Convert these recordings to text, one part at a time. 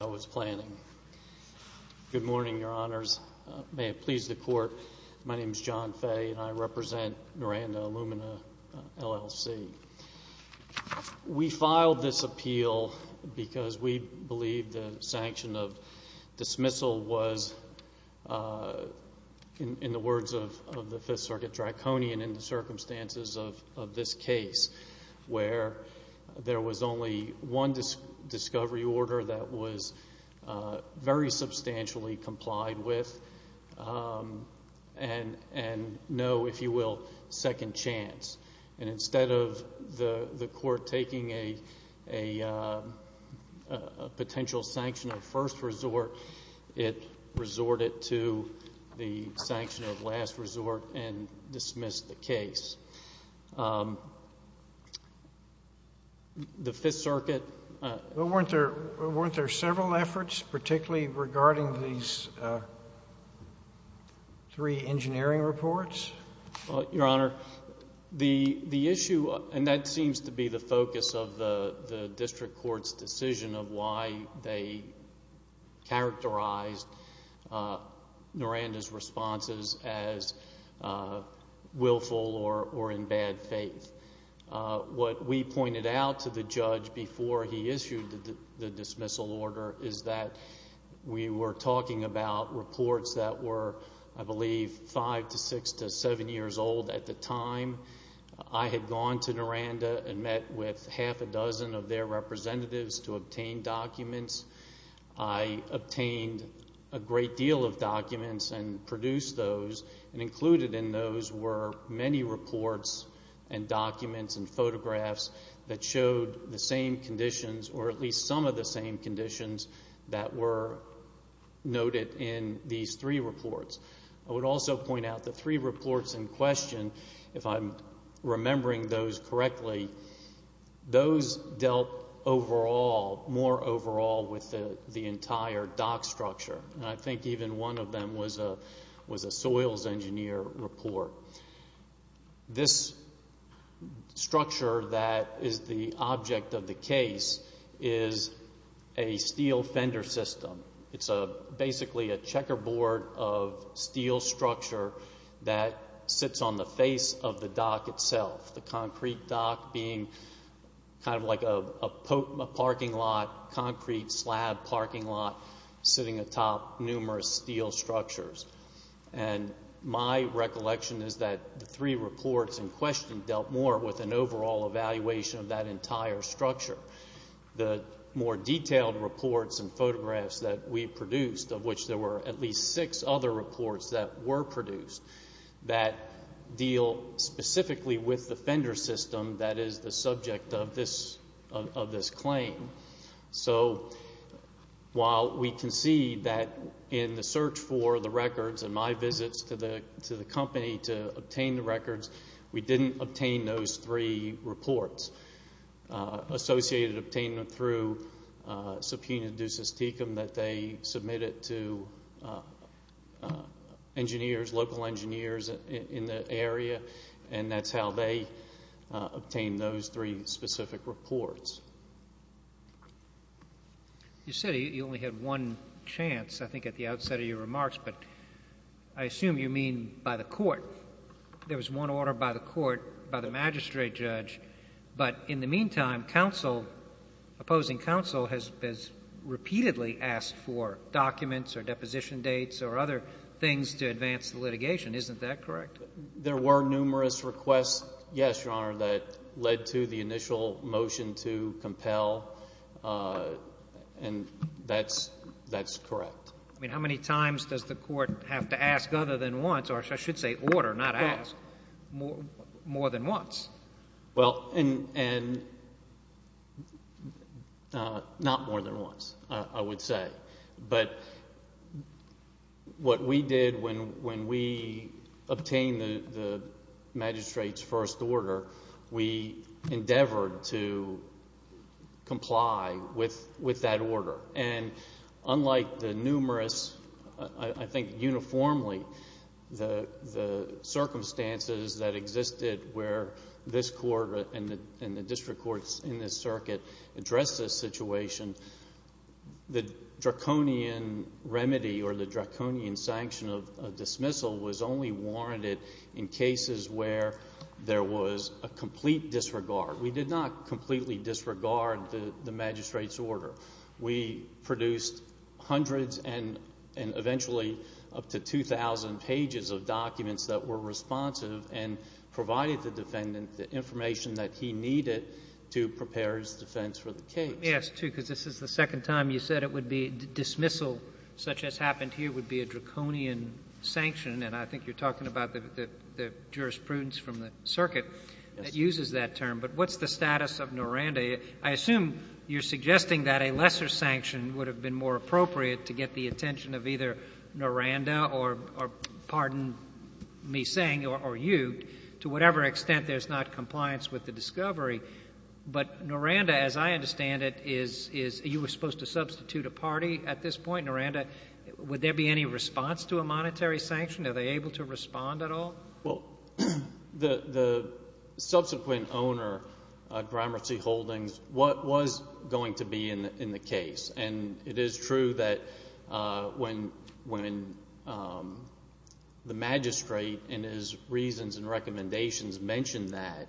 Good morning, Your Honors. May it please the Court, my name is John Fay and I represent Noranda Alumina, L.L.C. We filed this appeal because we believe the sanction of dismissal was, in the words of the Fifth Circuit, draconian in the circumstances of this case, where there was only one discovery order that was very substantially complied with and no, if you will, second chance. And instead of the Court taking a potential sanction of first resort, it resorted to the sanction of last resort and dismissed the case. The Fifth Circuit... Weren't there several efforts, particularly regarding these three engineering reports? Your Honor, the issue, and that seems to be the focus of the District Court's decision of why they characterized Noranda's responses as willful or in bad faith. What we pointed out to the judge before he issued the dismissal order is that we were talking about reports that were, I believe, five to six to seven years old at the time. I had gone to Noranda and met with half a dozen of their representatives to obtain documents. I obtained a great deal of documents and produced those and included in those were many reports and documents and photographs that showed the same conditions or at least some of the same conditions that were noted in these three reports. I would also point out the three reports in question, if I'm remembering those correctly, those dealt more overall with the entire dock structure. I think even one of them was a soils engineer report. This structure that is the object of the case is a steel fender system. It's basically a checkerboard of steel structure that sits on the face of the dock itself. The concrete dock being kind of like a parking lot, concrete slab parking lot sitting atop numerous steel structures. My recollection is that the three reports in question dealt more with an overall evaluation of that entire structure. The more detailed reports and photographs that we produced, of which there were at least six other reports that were produced, that deal specifically with the fender system that is the subject of this claim. So while we can see that in the search for the records and my visits to the company to obtain the records, we didn't obtain those three reports associated with obtaining them through subpoena ducis tecum that they submitted to engineers, local engineers in the area, and that's how they obtained those three specific reports. You said you only had one chance, I think at the outset of your remarks, but I assume you mean by the court. There was one order by the court, by the magistrate judge, but in the meantime, opposing counsel has repeatedly asked for documents or deposition dates or other things to advance the litigation. Isn't that correct? There were numerous requests, yes, Your Honor, that led to the initial motion to compel, and that's correct. I mean, how many times does the court have to ask other than once, or I should say order, not ask, more than once? Well, and not more than once, I would say. But what we did when we obtained the magistrate's first order, we endeavored to comply with that order. And unlike the numerous, I think uniformly, the circumstances that existed where this court and the district courts in this circuit addressed this situation, the draconian remedy or the draconian sanction of dismissal was only warranted in cases where there was a complete disregard. We did not completely disregard the magistrate's order. We produced hundreds and eventually up to 2,000 pages of documents that were responsive and provided the defendant the information that he needed to prepare his defense for the case. Let me ask, too, because this is the second time you said it would be dismissal, such as happened here would be a draconian sanction, and I think you're talking about the jurisprudence from the circuit that uses that term. But what's the status of Noranda? I assume you're suggesting that a lesser sanction would have been more appropriate to get the attention of either Noranda or, pardon me saying, or you, to whatever extent there's not compliance with the discovery. But Noranda, as I understand it, is you were saying, would there be any response to a monetary sanction? Are they able to respond at all? Well, the subsequent owner, Gramercy Holdings, was going to be in the case. And it is true that when the magistrate in his reasons and recommendations mentioned that,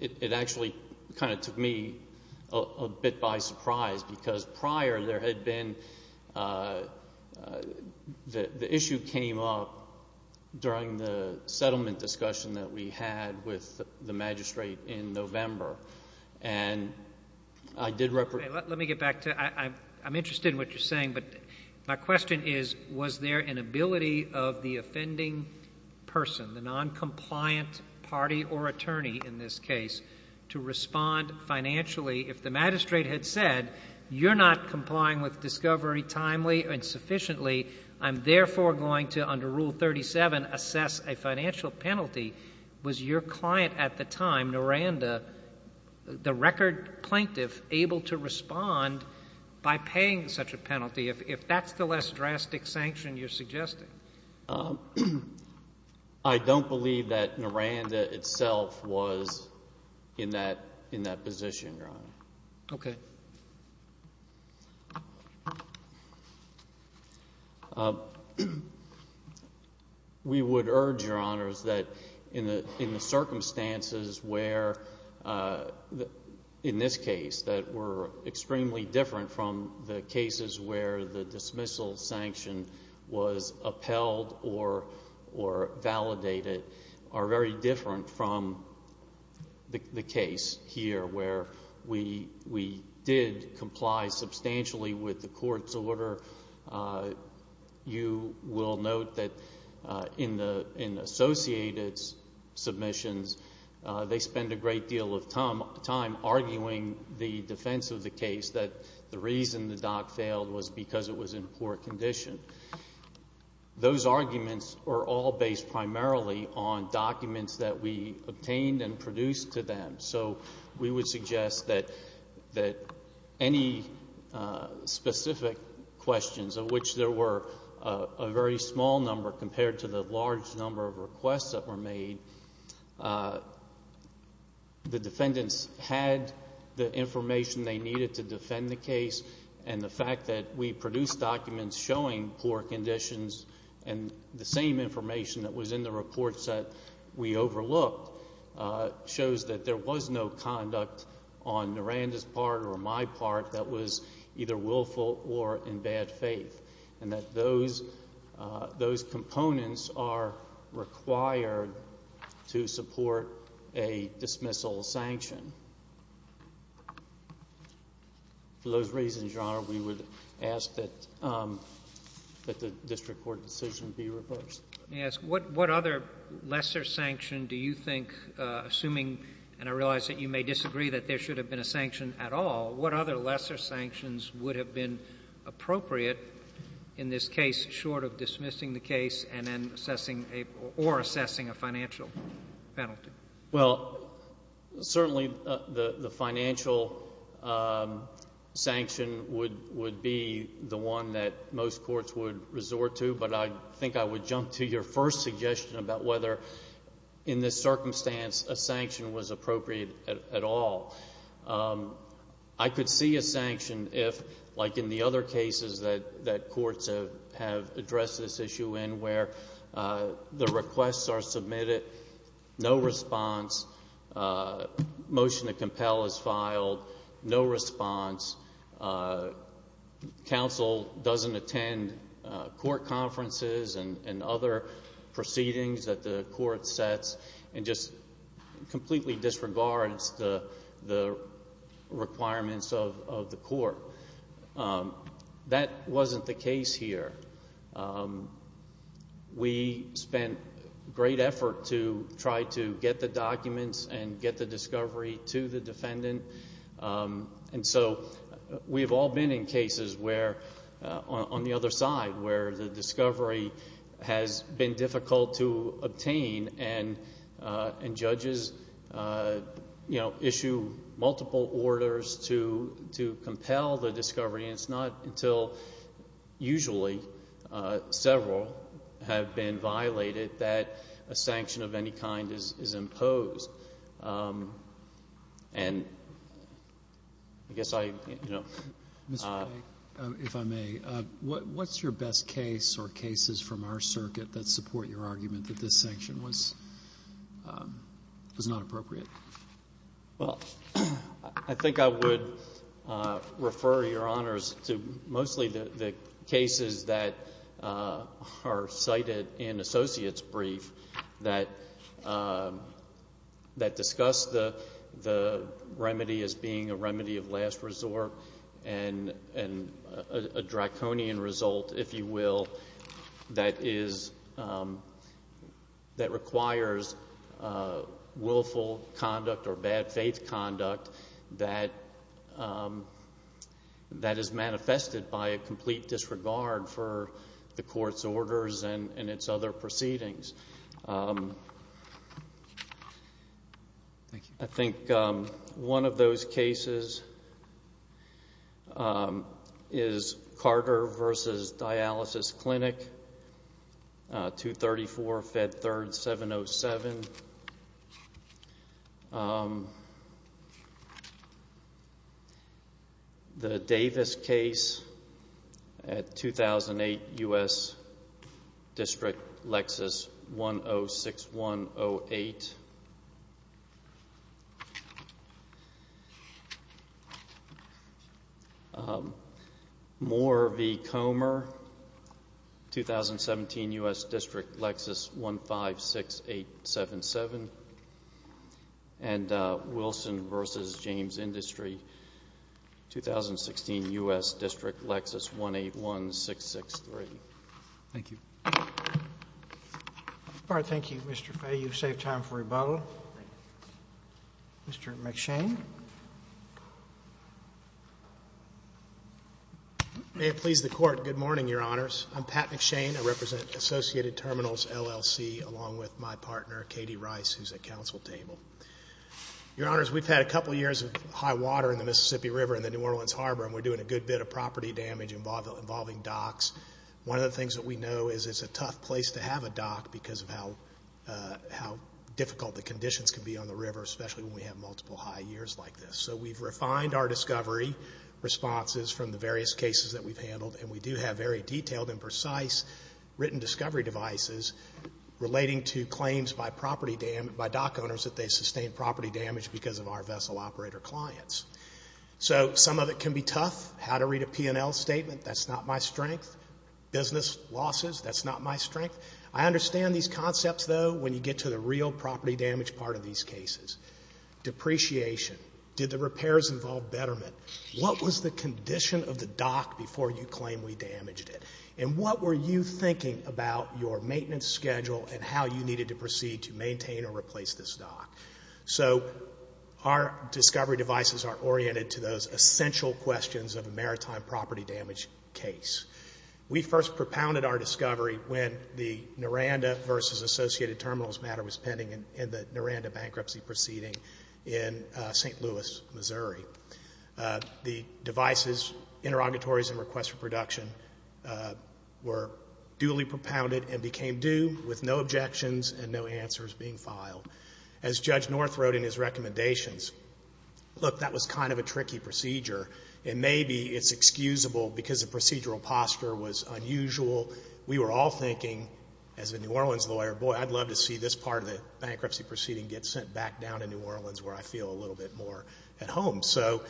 it actually kind of took me a bit by surprise because prior there had been the issue came up during the settlement discussion that we had with the magistrate in November. And I did represent Let me get back to it. I'm interested in what you're saying, but my question is, was there an ability of the offending person, the noncompliant party or attorney in this case, to respond financially? If the magistrate had said, you're not complying with discovery timely and sufficiently, I'm therefore going to, under Rule 37, assess a financial penalty, was your client at the time, Noranda, the record plaintiff, able to respond by paying such a penalty, if that's the less drastic sanction you're suggesting? I don't believe that Noranda itself was in that position, Your Honor. Okay. We would urge, Your Honors, that in the circumstances where, in this case, that were extremely different from the cases where the dismissal sanction was upheld or validated, are very different from the case here where we did comply substantially with the court's order. You will note that in the associated submissions, they spend a great deal of time arguing the defense of the case, that the reason the dock failed was because it was in poor condition. Those arguments are all based primarily on documents that we obtained and produced to them, so we would suggest that any specific questions, of which there were a very small number compared to the large number of requests that were made, the defendants had the information they needed to defend the case, and the fact that we produced documents showing poor conditions and the same information that was in the reports that we overlooked shows that there was no conduct on Noranda's part or my part that was either willful or in bad faith, and that those components are required to support a dismissal sanction. For those reasons, Your Honor, we would ask that the district court decision be reversed. Let me ask, what other lesser sanction do you think, assuming, and I realize that you may disagree that there should have been a sanction at all, what other lesser sanctions would have been appropriate in this case short of dismissing the case and then assessing or assessing a financial penalty? Well, certainly the financial sanction would be the one that most courts would resort to, but I think I would jump to your first suggestion about whether in this circumstance a sanction was appropriate at all. I could see a sanction if, like in the other cases that courts have addressed this issue in where the requests are submitted, no response, motion to compel is filed, no response, counsel doesn't attend court conferences and other proceedings that the court sets, and just completely disregards the requirements of the court. That wasn't the case here. We spent great effort to try to get the documents and get the discovery to the defendant, and so we've all been in cases where, on the other side, where the discovery has been difficult to obtain and judges, you know, issue multiple orders to compel the discovery, and it's not until usually several have been violated that a sanction of any kind is imposed. And I guess I, you know. Mr. Blake, if I may, what's your best case or cases from our circuit that support your argument that this sanction was not appropriate? Well, I think I would refer Your Honors to mostly the cases that are cited in Associates' brief that discuss the remedy as being a remedy of last resort and a draconian result, if you will, that requires willful conduct or bad faith conduct that is manifested by a complete disregard for the court's orders and its other proceedings. I think one of those cases is Carter v. Dialysis Clinic, 234 Fed 3rd, 707. The Davis case at 2008 U.S. District, Lexus 106108. Moore v. Comer, 2017 U.S. District, Lexus 156877. And Wilson v. James Industry, 2016 U.S. District, Lexus 181663. Thank you. All right. Thank you, Mr. Fay. You've saved time for rebuttal. Mr. McShane. May it please the Court, good morning, Your Honors. I'm Pat McShane. I represent Associated Terminals, LLC, along with my partner, Katie Rice, who's at Council Table. Your Honors, we've had a couple years of high water in the Mississippi River and the New Orleans Harbor, and we're doing a good bit of property damage involving docks. One of the things that we know is it's a tough place to have a dock because of how difficult the conditions can be on the river, especially when we have multiple high years like this. So we've refined our discovery responses from the various cases that we've handled, and we do have very detailed and precise written discovery devices relating to claims by dock owners that they sustained property damage because of our vessel operator clients. So some of it can be tough. How to read a P&L statement, that's not my strength. Business losses, that's not my strength. I understand these concepts, though, when you get to the real property damage part of these cases. Depreciation. Did the repairs involve betterment? What was the condition of the dock before you claim we damaged it? And what were you thinking about your maintenance schedule and how you needed to proceed to maintain or replace this dock? So our discovery devices are oriented to those essential questions of a maritime property damage case. We first propounded our discovery when the Noranda v. Associated Terminals matter was pending in the Noranda bankruptcy proceeding in St. Louis, Missouri. The devices, interrogatories, and requests for production were duly propounded and became due with no objections and no answers being filed. As Judge North wrote in his recommendations, look, that was kind of a tricky procedure, and maybe it's excusable because the procedural posture was unusual. We were all thinking as a New Orleans lawyer, boy, I'd love to see this part of the bankruptcy proceeding get sent back down to New Orleans where I feel a little bit more at home. So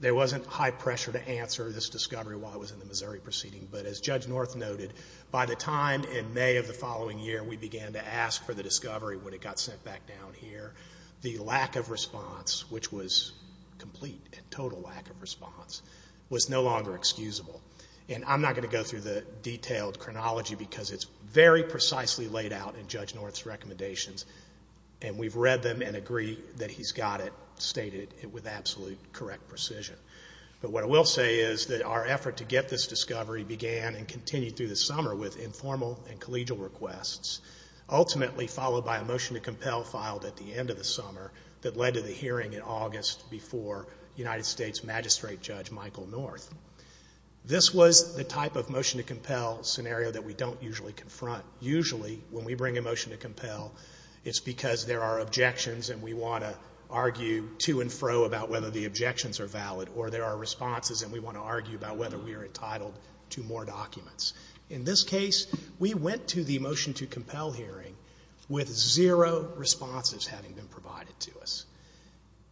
there wasn't high pressure to answer this discovery while I was in the Missouri proceeding. But as Judge North noted, by the time in May of the following year we began to ask for the discovery, when it got sent back down here, the lack of response, which was complete and total lack of response, was no longer excusable. And I'm not going to go through the detailed chronology because it's very precisely laid out in Judge North's recommendations, and we've read them and agree that he's got it stated with absolute correct precision. But what I will say is that our effort to get this discovery began and continued through the summer with informal and collegial requests, ultimately followed by a motion to compel filed at the end of the summer that led to the hearing in August before United States Magistrate Judge Michael North. This was the type of motion to compel scenario that we don't usually confront. Usually when we bring a motion to compel, it's because there are objections and we want to argue to and fro about whether the objections are valid, or there are responses and we want to argue about whether we are entitled to more documents. In this case, we went to the motion to compel hearing with zero responses having been provided to us.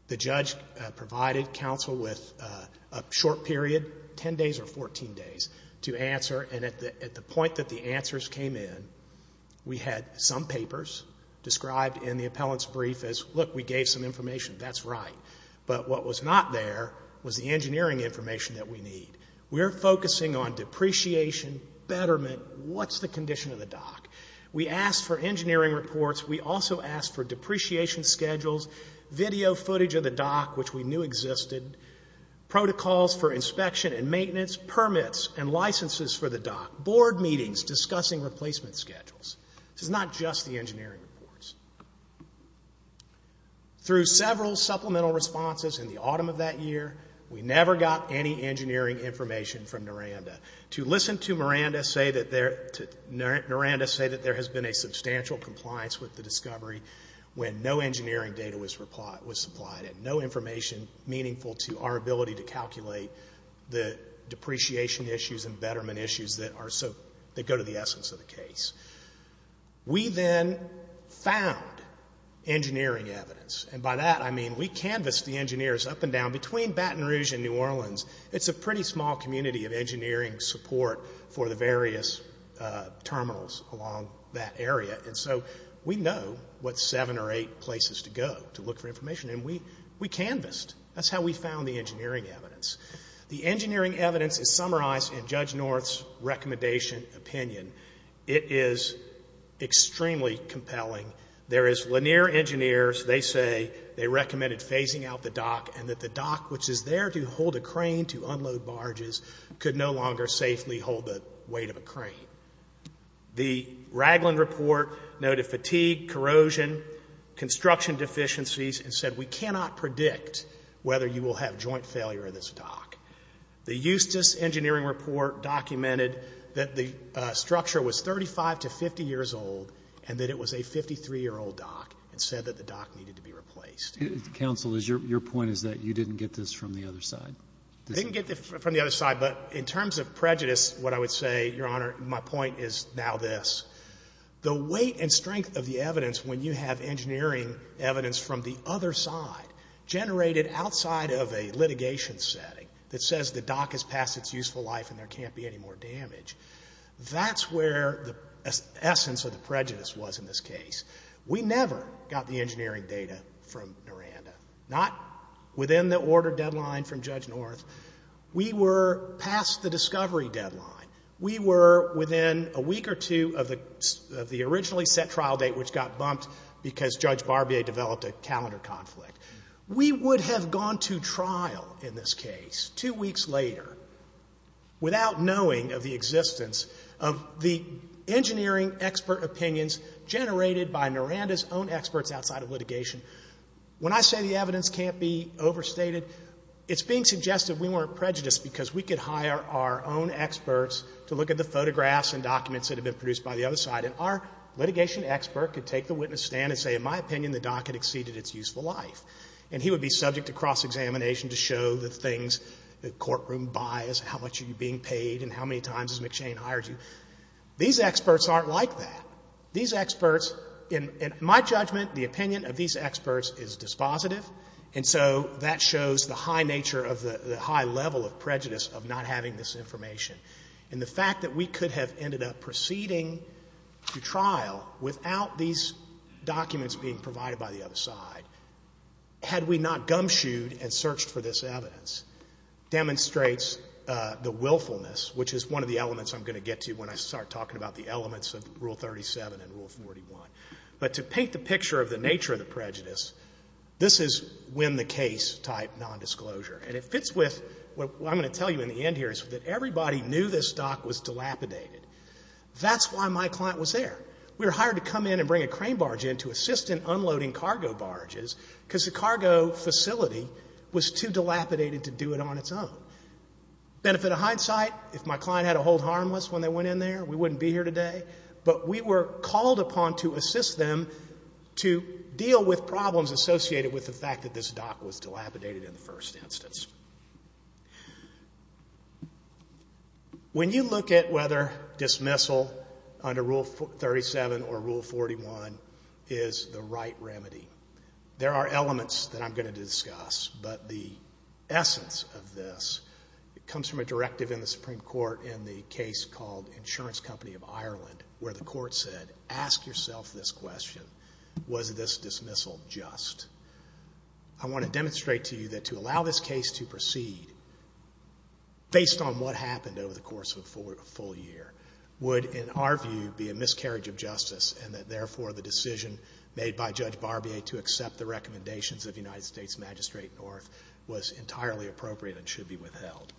The judge provided counsel with a short period, 10 days or 14 days, to answer, and at the point that the answers came in, we had some papers described in the appellant's brief as, look, we gave some information, that's right. But what was not there was the engineering information that we need. We're focusing on depreciation, betterment, what's the condition of the dock? We asked for engineering reports. We also asked for depreciation schedules, video footage of the dock which we knew existed, protocols for inspection and maintenance, permits and licenses for the dock, board meetings discussing replacement schedules. This is not just the engineering reports. Through several supplemental responses in the autumn of that year, we never got any engineering information from Miranda. To listen to Miranda say that there has been a substantial compliance with the discovery when no engineering data was supplied, and no information meaningful to our ability to calculate the depreciation issues and betterment issues that go to the essence of the case. We then found engineering evidence. And by that I mean we canvassed the engineers up and down between Baton Rouge and New Orleans. It's a pretty small community of engineering support for the various terminals along that area. And so we know what seven or eight places to go to look for information, and we canvassed. That's how we found the engineering evidence. The engineering evidence is summarized in Judge North's recommendation opinion. It is extremely compelling. There is Lanier engineers, they say they recommended phasing out the dock and that the dock, which is there to hold a crane to unload barges, could no longer safely hold the weight of a crane. The Ragland report noted fatigue, corrosion, construction deficiencies, and said we cannot predict whether you will have joint failure of this dock. The Eustis engineering report documented that the structure was 35 to 50 years old and that it was a 53-year-old dock and said that the dock needed to be replaced. Counsel, your point is that you didn't get this from the other side. I didn't get it from the other side, but in terms of prejudice, what I would say, Your Honor, my point is now this. The weight and strength of the evidence when you have engineering evidence from the other side, generated outside of a litigation setting that says the dock has passed its useful life and there can't be any more damage, that's where the essence of the prejudice was in this case. We never got the engineering data from Noranda, not within the order deadline from Judge North. We were past the discovery deadline. We were within a week or two of the originally set trial date, which got bumped because Judge Barbier developed a calendar conflict. We would have gone to trial in this case two weeks later without knowing of the existence of the engineering expert opinions generated by Noranda's own experts outside of litigation. When I say the evidence can't be overstated, it's being suggested we weren't prejudiced because we could hire our own experts to look at the photographs and documents that had been produced by the other side, and our litigation expert could take the witness stand and say, in my opinion, the dock had exceeded its useful life. And he would be subject to cross-examination to show the things, the courtroom bias, how much are you being paid, and how many times has McShane hired you. These experts aren't like that. These experts, in my judgment, the opinion of these experts is dispositive, and so that shows the high nature of the high level of prejudice of not having this information. And the fact that we could have ended up proceeding to trial without these documents being provided by the other side, had we not gumshoed and searched for this evidence, demonstrates the willfulness, which is one of the elements I'm going to get to when I start talking about the elements of Rule 37 and Rule 41. But to paint the picture of the nature of the prejudice, this is win-the-case type nondisclosure. And it fits with what I'm going to tell you in the end here, is that everybody knew this dock was dilapidated. That's why my client was there. We were hired to come in and bring a crane barge in to assist in unloading cargo barges, because the cargo facility was too dilapidated to do it on its own. Benefit of hindsight, if my client had to hold harmless when they went in there, we wouldn't be here today. But we were called upon to assist them to deal with problems associated with the fact that this dock was dilapidated in the first instance. When you look at whether dismissal under Rule 37 or Rule 41 is the right remedy, there are elements that I'm going to discuss, but the essence of this comes from a directive in the Supreme Court in the case called Insurance Company of Ireland, where the court said, ask yourself this question, was this dismissal just? I want to demonstrate to you that to allow this case to proceed, based on what happened over the course of a full year, would, in our view, be a miscarriage of justice, and that, therefore, the decision made by Judge Barbier to accept the recommendations of United States Magistrate North was entirely appropriate and should be withheld.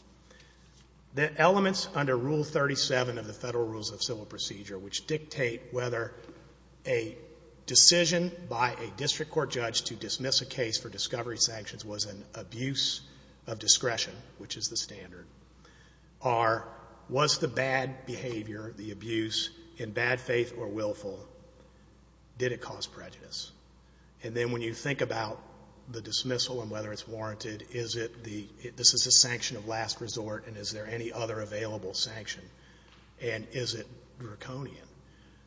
The elements under Rule 37 of the Federal Rules of Civil Procedure, which dictate whether a decision by a district court judge to dismiss a case for discovery sanctions was an abuse of discretion, which is the standard, are, was the bad behavior, the abuse, in bad faith or willful? Did it cause prejudice? And then when you think about the dismissal and whether it's warranted, is it the, this is a sanction of last resort, and is there any other available sanction? And is it draconian?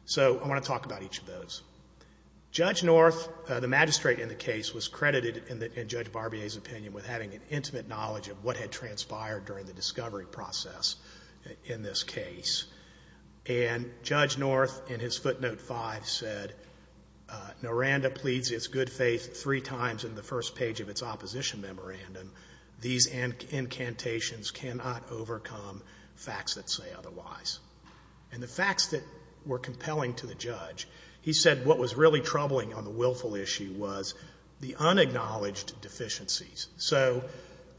So I want to talk about each of those. Judge North, the magistrate in the case, was credited in Judge Barbier's opinion with having an intimate knowledge of what had transpired during the discovery process in this case. And Judge North, in his footnote 5, said, Noranda pleads its good faith three times in the first page of its opposition memorandum. These incantations cannot overcome facts that say otherwise. And the facts that were compelling to the judge, he said what was really troubling on the willful issue was the unacknowledged deficiencies. So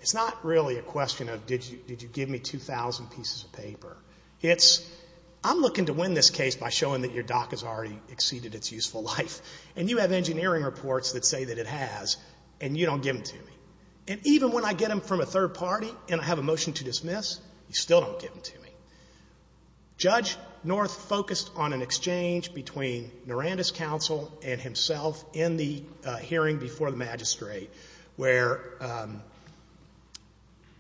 it's not really a question of did you give me 2,000 pieces of paper. It's I'm looking to win this case by showing that your dock has already exceeded its useful life. And you have engineering reports that say that it has, and you don't give them to me. And even when I get them from a third party and I have a motion to dismiss, you still don't give them to me. Judge North focused on an exchange between Noranda's counsel and himself in the hearing before the magistrate where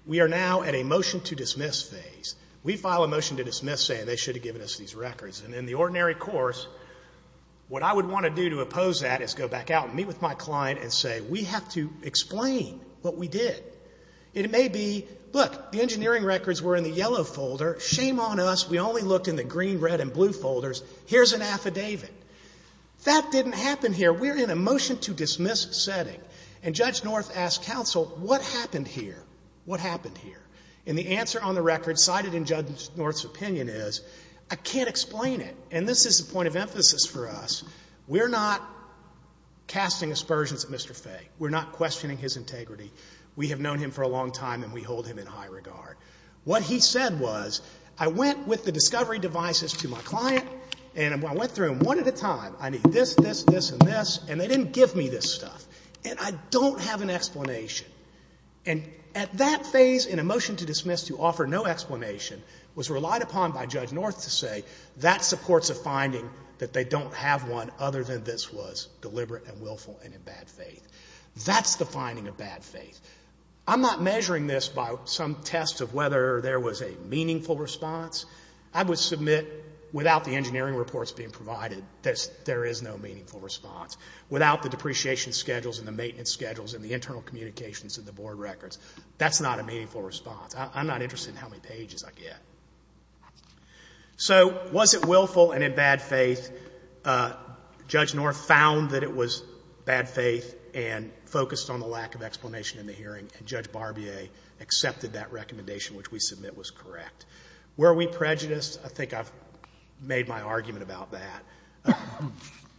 we are now at a motion to dismiss phase. We file a motion to dismiss saying they should have given us these records. And in the ordinary course, what I would want to do to oppose that is go back out and meet with my client and say we have to explain what we did. It may be, look, the engineering records were in the yellow folder. Shame on us. We only looked in the green, red, and blue folders. Here's an affidavit. That didn't happen here. We're in a motion to dismiss setting. And Judge North asked counsel, what happened here? What happened here? And the answer on the record cited in Judge North's opinion is, I can't explain it. And this is the point of emphasis for us. We're not casting aspersions at Mr. Fay. We're not questioning his integrity. We have known him for a long time, and we hold him in high regard. What he said was, I went with the discovery devices to my client, and I went through them one at a time. I need this, this, this, and this, and they didn't give me this stuff. And I don't have an explanation. And at that phase in a motion to dismiss to offer no explanation was relied upon by Judge North to say that supports a finding that they don't have one other than this was deliberate and willful and in bad faith. That's the finding of bad faith. I'm not measuring this by some test of whether there was a meaningful response. I would submit without the engineering reports being provided that there is no meaningful response. Without the depreciation schedules and the maintenance schedules and the internal communications and the board records, that's not a meaningful response. I'm not interested in how many pages I get. So was it willful and in bad faith? Judge North found that it was bad faith and focused on the lack of explanation in the hearing, and Judge Barbier accepted that recommendation, which we submit was correct. Were we prejudiced? I think I've made my argument about that.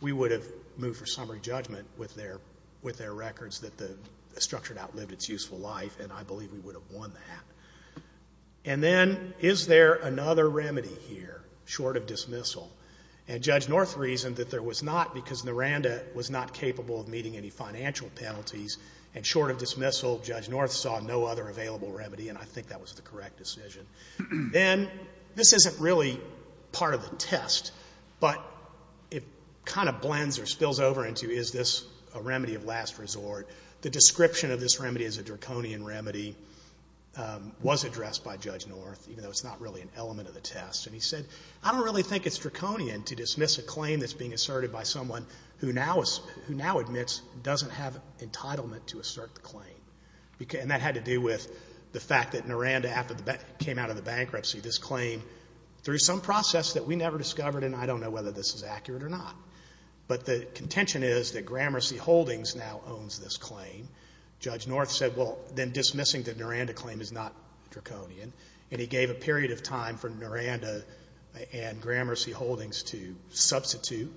We would have moved for summary judgment with their records that the structure outlived its useful life, and I believe we would have won that. And then is there another remedy here short of dismissal? And Judge North reasoned that there was not because Naranda was not capable of meeting any financial penalties, and short of dismissal, Judge North saw no other available remedy, and I think that was the correct decision. Then this isn't really part of the test, but it kind of blends or spills over into is this a remedy of last resort? The description of this remedy is a draconian remedy. This remedy was addressed by Judge North, even though it's not really an element of the test, and he said, I don't really think it's draconian to dismiss a claim that's being asserted by someone who now admits doesn't have entitlement to assert the claim, and that had to do with the fact that Naranda, after it came out of the bankruptcy, this claim, through some process that we never discovered, and I don't know whether this is accurate or not, but the contention is that Gramercy Holdings now owns this claim. Judge North said, well, then dismissing the Naranda claim is not draconian, and he gave a period of time for Naranda and Gramercy Holdings to substitute,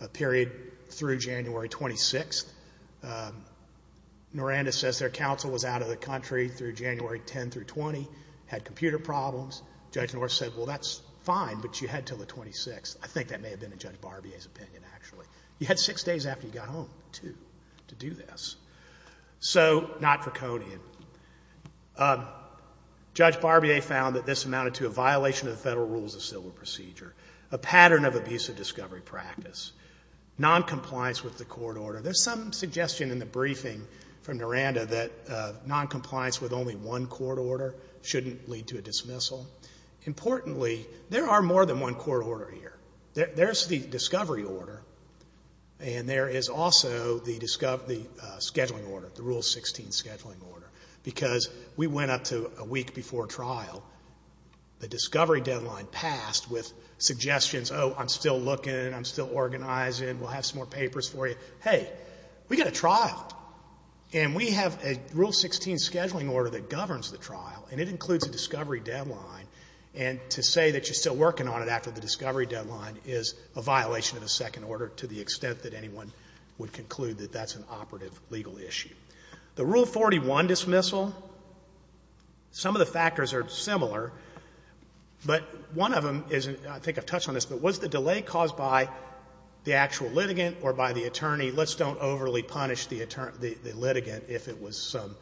a period through January 26th. Naranda says their counsel was out of the country through January 10 through 20, had computer problems. Judge North said, well, that's fine, but you had until the 26th. I think that may have been in Judge Barbier's opinion, actually. You had six days after you got home, too, to do this. So not draconian. Judge Barbier found that this amounted to a violation of the Federal Rules of Civil Procedure, a pattern of abusive discovery practice, noncompliance with the court order. There's some suggestion in the briefing from Naranda that noncompliance with only one court order shouldn't lead to a dismissal. Importantly, there are more than one court order here. There's the discovery order, and there is also the scheduling order, the Rule 16 scheduling order, because we went up to a week before trial. The discovery deadline passed with suggestions, oh, I'm still looking, I'm still organizing, we'll have some more papers for you. Hey, we got a trial, and we have a Rule 16 scheduling order that governs the trial, and it includes a discovery deadline, and to say that you're still working on it after the discovery deadline is a violation of the second order to the extent that anyone would conclude that that's an operative legal issue. The Rule 41 dismissal, some of the factors are similar, but one of them is, I think I've touched on this, but was the delay caused by the actual litigant or by the attorney? Let's don't overly punish the litigant if it was some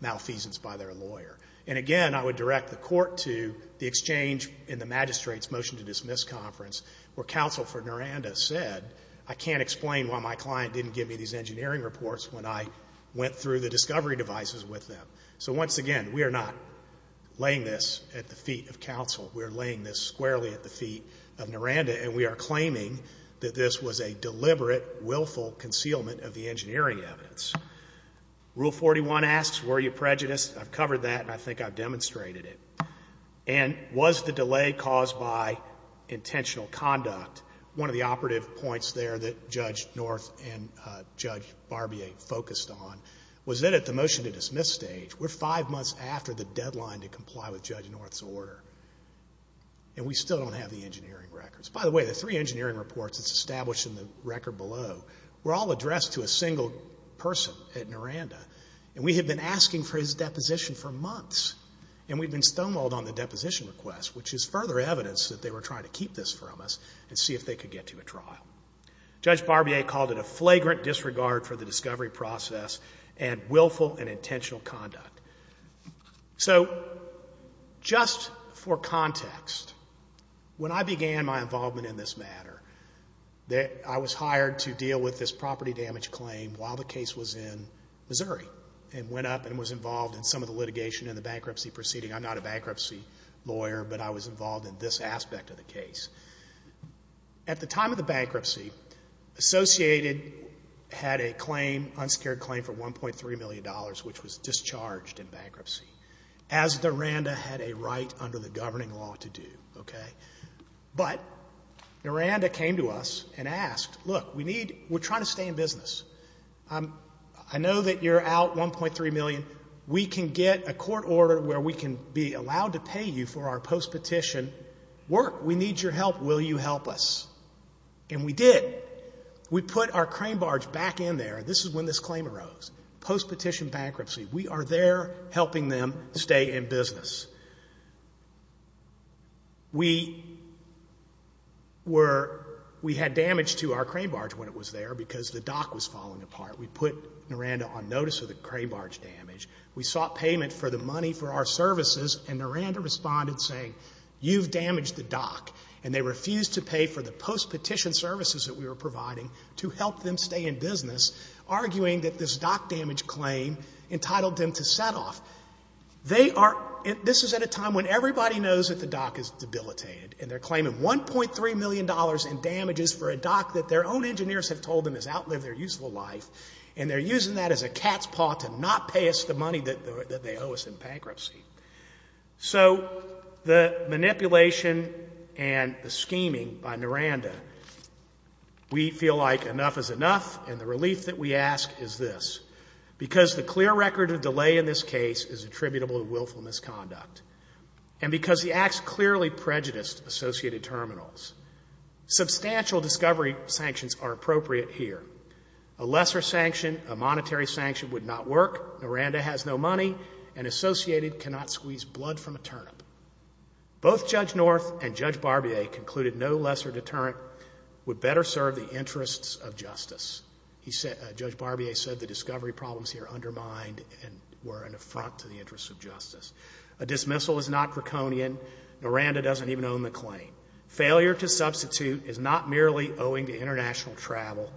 malfeasance by their lawyer. And again, I would direct the court to the exchange in the magistrate's motion to dismiss conference where counsel for Naranda said, I can't explain why my client didn't give me these engineering reports when I went through the discovery devices with them. So once again, we are not laying this at the feet of counsel. We are laying this squarely at the feet of Naranda, and we are claiming that this was a deliberate, willful concealment of the engineering evidence. Rule 41 asks, were you prejudiced? I've covered that, and I think I've demonstrated it. And was the delay caused by intentional conduct? One of the operative points there that Judge North and Judge Barbier focused on was that at the motion to dismiss stage, we're five months after the deadline to comply with Judge North's order, and we still don't have the engineering records. By the way, the three engineering reports that's established in the record below were all addressed to a single person at Naranda, and we have been asking for his deposition for months, and we've been stonewalled on the deposition request, which is further evidence that they were trying to keep this from us and see if they could get to a trial. Judge Barbier called it a flagrant disregard for the discovery process and willful and intentional conduct. So just for context, when I began my involvement in this matter, I was hired to deal with this property damage claim while the case was in Missouri and went up and was involved in some of the litigation and the bankruptcy proceeding. I'm not a bankruptcy lawyer, but I was involved in this aspect of the case. At the time of the bankruptcy, Associated had a claim, unsecured claim for $1.3 million, which was discharged in bankruptcy, as Naranda had a right under the governing law to do. But Naranda came to us and asked, look, we're trying to stay in business. I know that you're out $1.3 million. We can get a court order where we can be allowed to pay you for our post-petition work. We need your help. Will you help us? And we did. We put our crane barge back in there. This is when this claim arose, post-petition bankruptcy. We are there helping them stay in business. We had damage to our crane barge when it was there because the dock was falling apart. We put Naranda on notice of the crane barge damage. We sought payment for the money for our services, and Naranda responded saying, you've damaged the dock, and they refused to pay for the post-petition services that we were providing to help them stay in business, arguing that this dock damage claim entitled them to set off. This is at a time when everybody knows that the dock is debilitated, and they're claiming $1.3 million in damages for a dock that their own engineers have told them has outlived their useful life, and they're using that as a cat's paw to not pay us the money that they owe us in bankruptcy. So the manipulation and the scheming by Naranda, we feel like enough is enough, and the relief that we ask is this. Because the clear record of delay in this case is attributable to willful misconduct, and because the acts clearly prejudiced associated terminals, substantial discovery sanctions are appropriate here. A lesser sanction, a monetary sanction, would not work. Naranda has no money, and associated cannot squeeze blood from a turnip. Both Judge North and Judge Barbier concluded no lesser deterrent would better serve the interests of justice. Judge Barbier said the discovery problems here undermined and were an affront to the interests of justice. A dismissal is not draconian. Naranda doesn't even own the claim. Failure to substitute is not merely owing to international travel.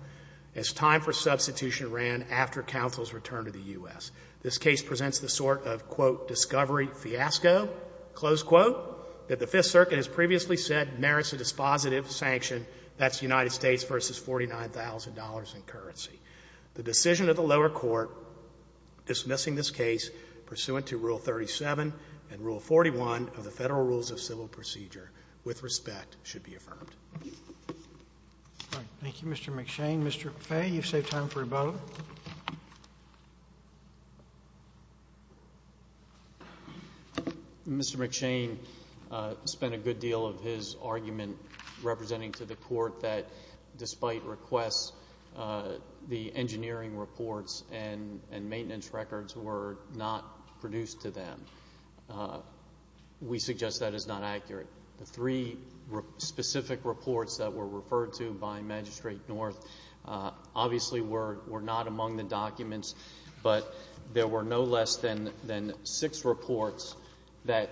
It's time for substitution ran after counsel's return to the U.S. This case presents the sort of, quote, discovery fiasco, close quote, that the Fifth Circuit has previously said merits a dispositive sanction. That's United States versus $49,000 in currency. The decision of the lower court dismissing this case pursuant to Rule 37 and Rule 41 of the Federal Rules of Civil Procedure with respect should be affirmed. Roberts. Thank you, Mr. McShane. Mr. Fay, you've saved time for a vote. Mr. McShane spent a good deal of his argument representing to the court that despite requests, the engineering reports and maintenance records were not produced to them. We suggest that is not accurate. The three specific reports that were referred to by Magistrate North obviously were not among the documents, but there were no less than six reports that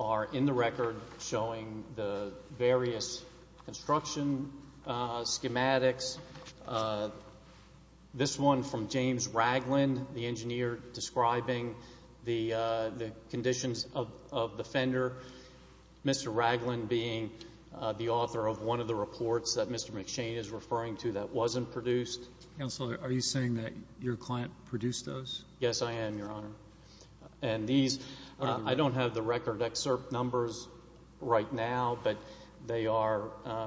are in the record showing the various construction schematics. This one from James Ragland, the engineer describing the conditions of the fender. Mr. Ragland being the author of one of the reports that Mr. McShane is referring to that wasn't produced. Counselor, are you saying that your client produced those? Yes, I am, Your Honor. I don't have the record excerpt numbers right now, but they are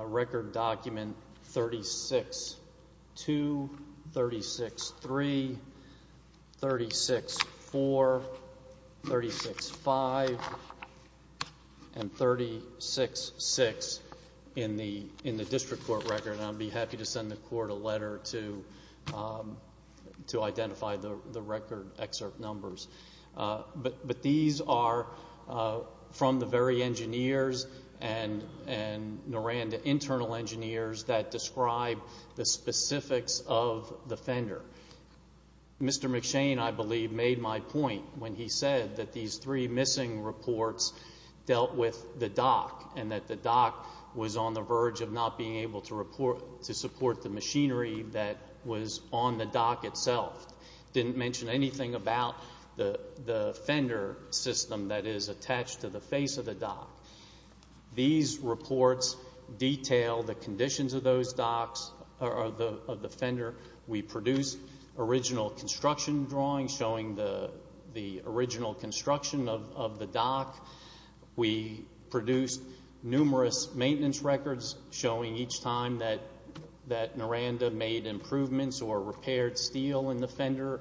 record document 36-2, 36-3, 36-4, 36-5, and 36-6 in the district court record. I'd be happy to send the court a letter to identify the record excerpt numbers. But these are from the very engineers and, Noranda, internal engineers that describe the specifics of the fender. Mr. McShane, I believe, made my point when he said that these three missing reports dealt with the dock and that the dock was on the verge of not being able to support the machinery that was on the dock itself. Didn't mention anything about the fender system that is attached to the face of the dock. These reports detail the conditions of those docks, of the fender. We produced original construction drawings showing the original construction of the dock. We produced numerous maintenance records showing each time that Noranda made improvements or repaired steel in the fender.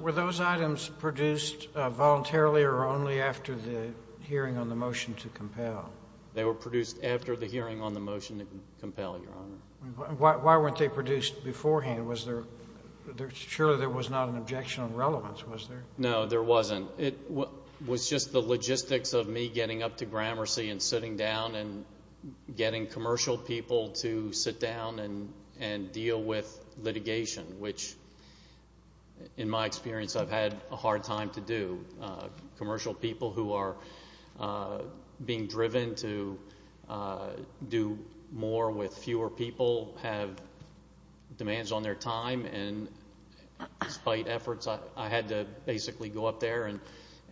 Were those items produced voluntarily or only after the hearing on the motion to compel? They were produced after the hearing on the motion to compel, Your Honor. Why weren't they produced beforehand? Surely there was not an objection of relevance, was there? No, there wasn't. It was just the logistics of me getting up to Gramercy and sitting down and getting commercial people to sit down and deal with litigation, which, in my experience, I've had a hard time to do. Commercial people who are being driven to do more with fewer people have demands on their time, and despite efforts, I had to basically go up there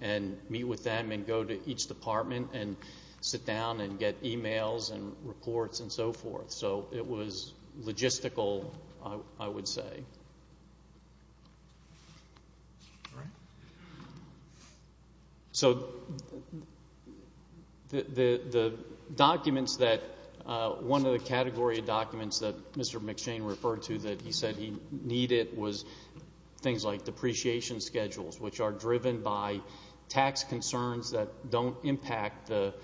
and meet with them and go to each department and sit down and get e-mails and reports and so forth. So it was logistical, I would say. All right. So the documents that one of the category of documents that Mr. McShane referred to that he said he needed was things like depreciation schedules, which are driven by tax concerns that don't impact the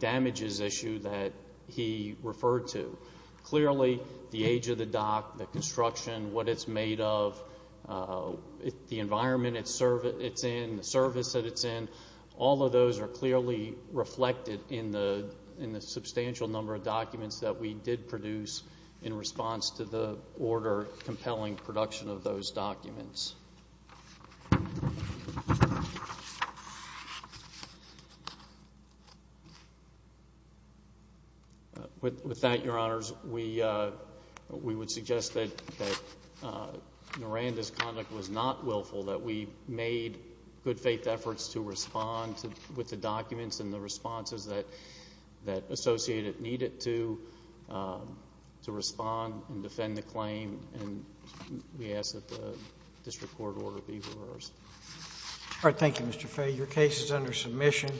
damages issue that he referred to. Clearly, the age of the dock, the construction, what it's made of, the environment it's in, the service that it's in, all of those are clearly reflected in the substantial number of documents that we did produce in response to the order, compelling production of those documents. With that, Your Honors, we would suggest that Noranda's conduct was not willful, that we made good-faith efforts to respond with the documents and the responses that Associated needed to respond and defend the claim, and we ask that the district court order be reversed. All right. Thank you, Mr. Fay. Your case is under submission.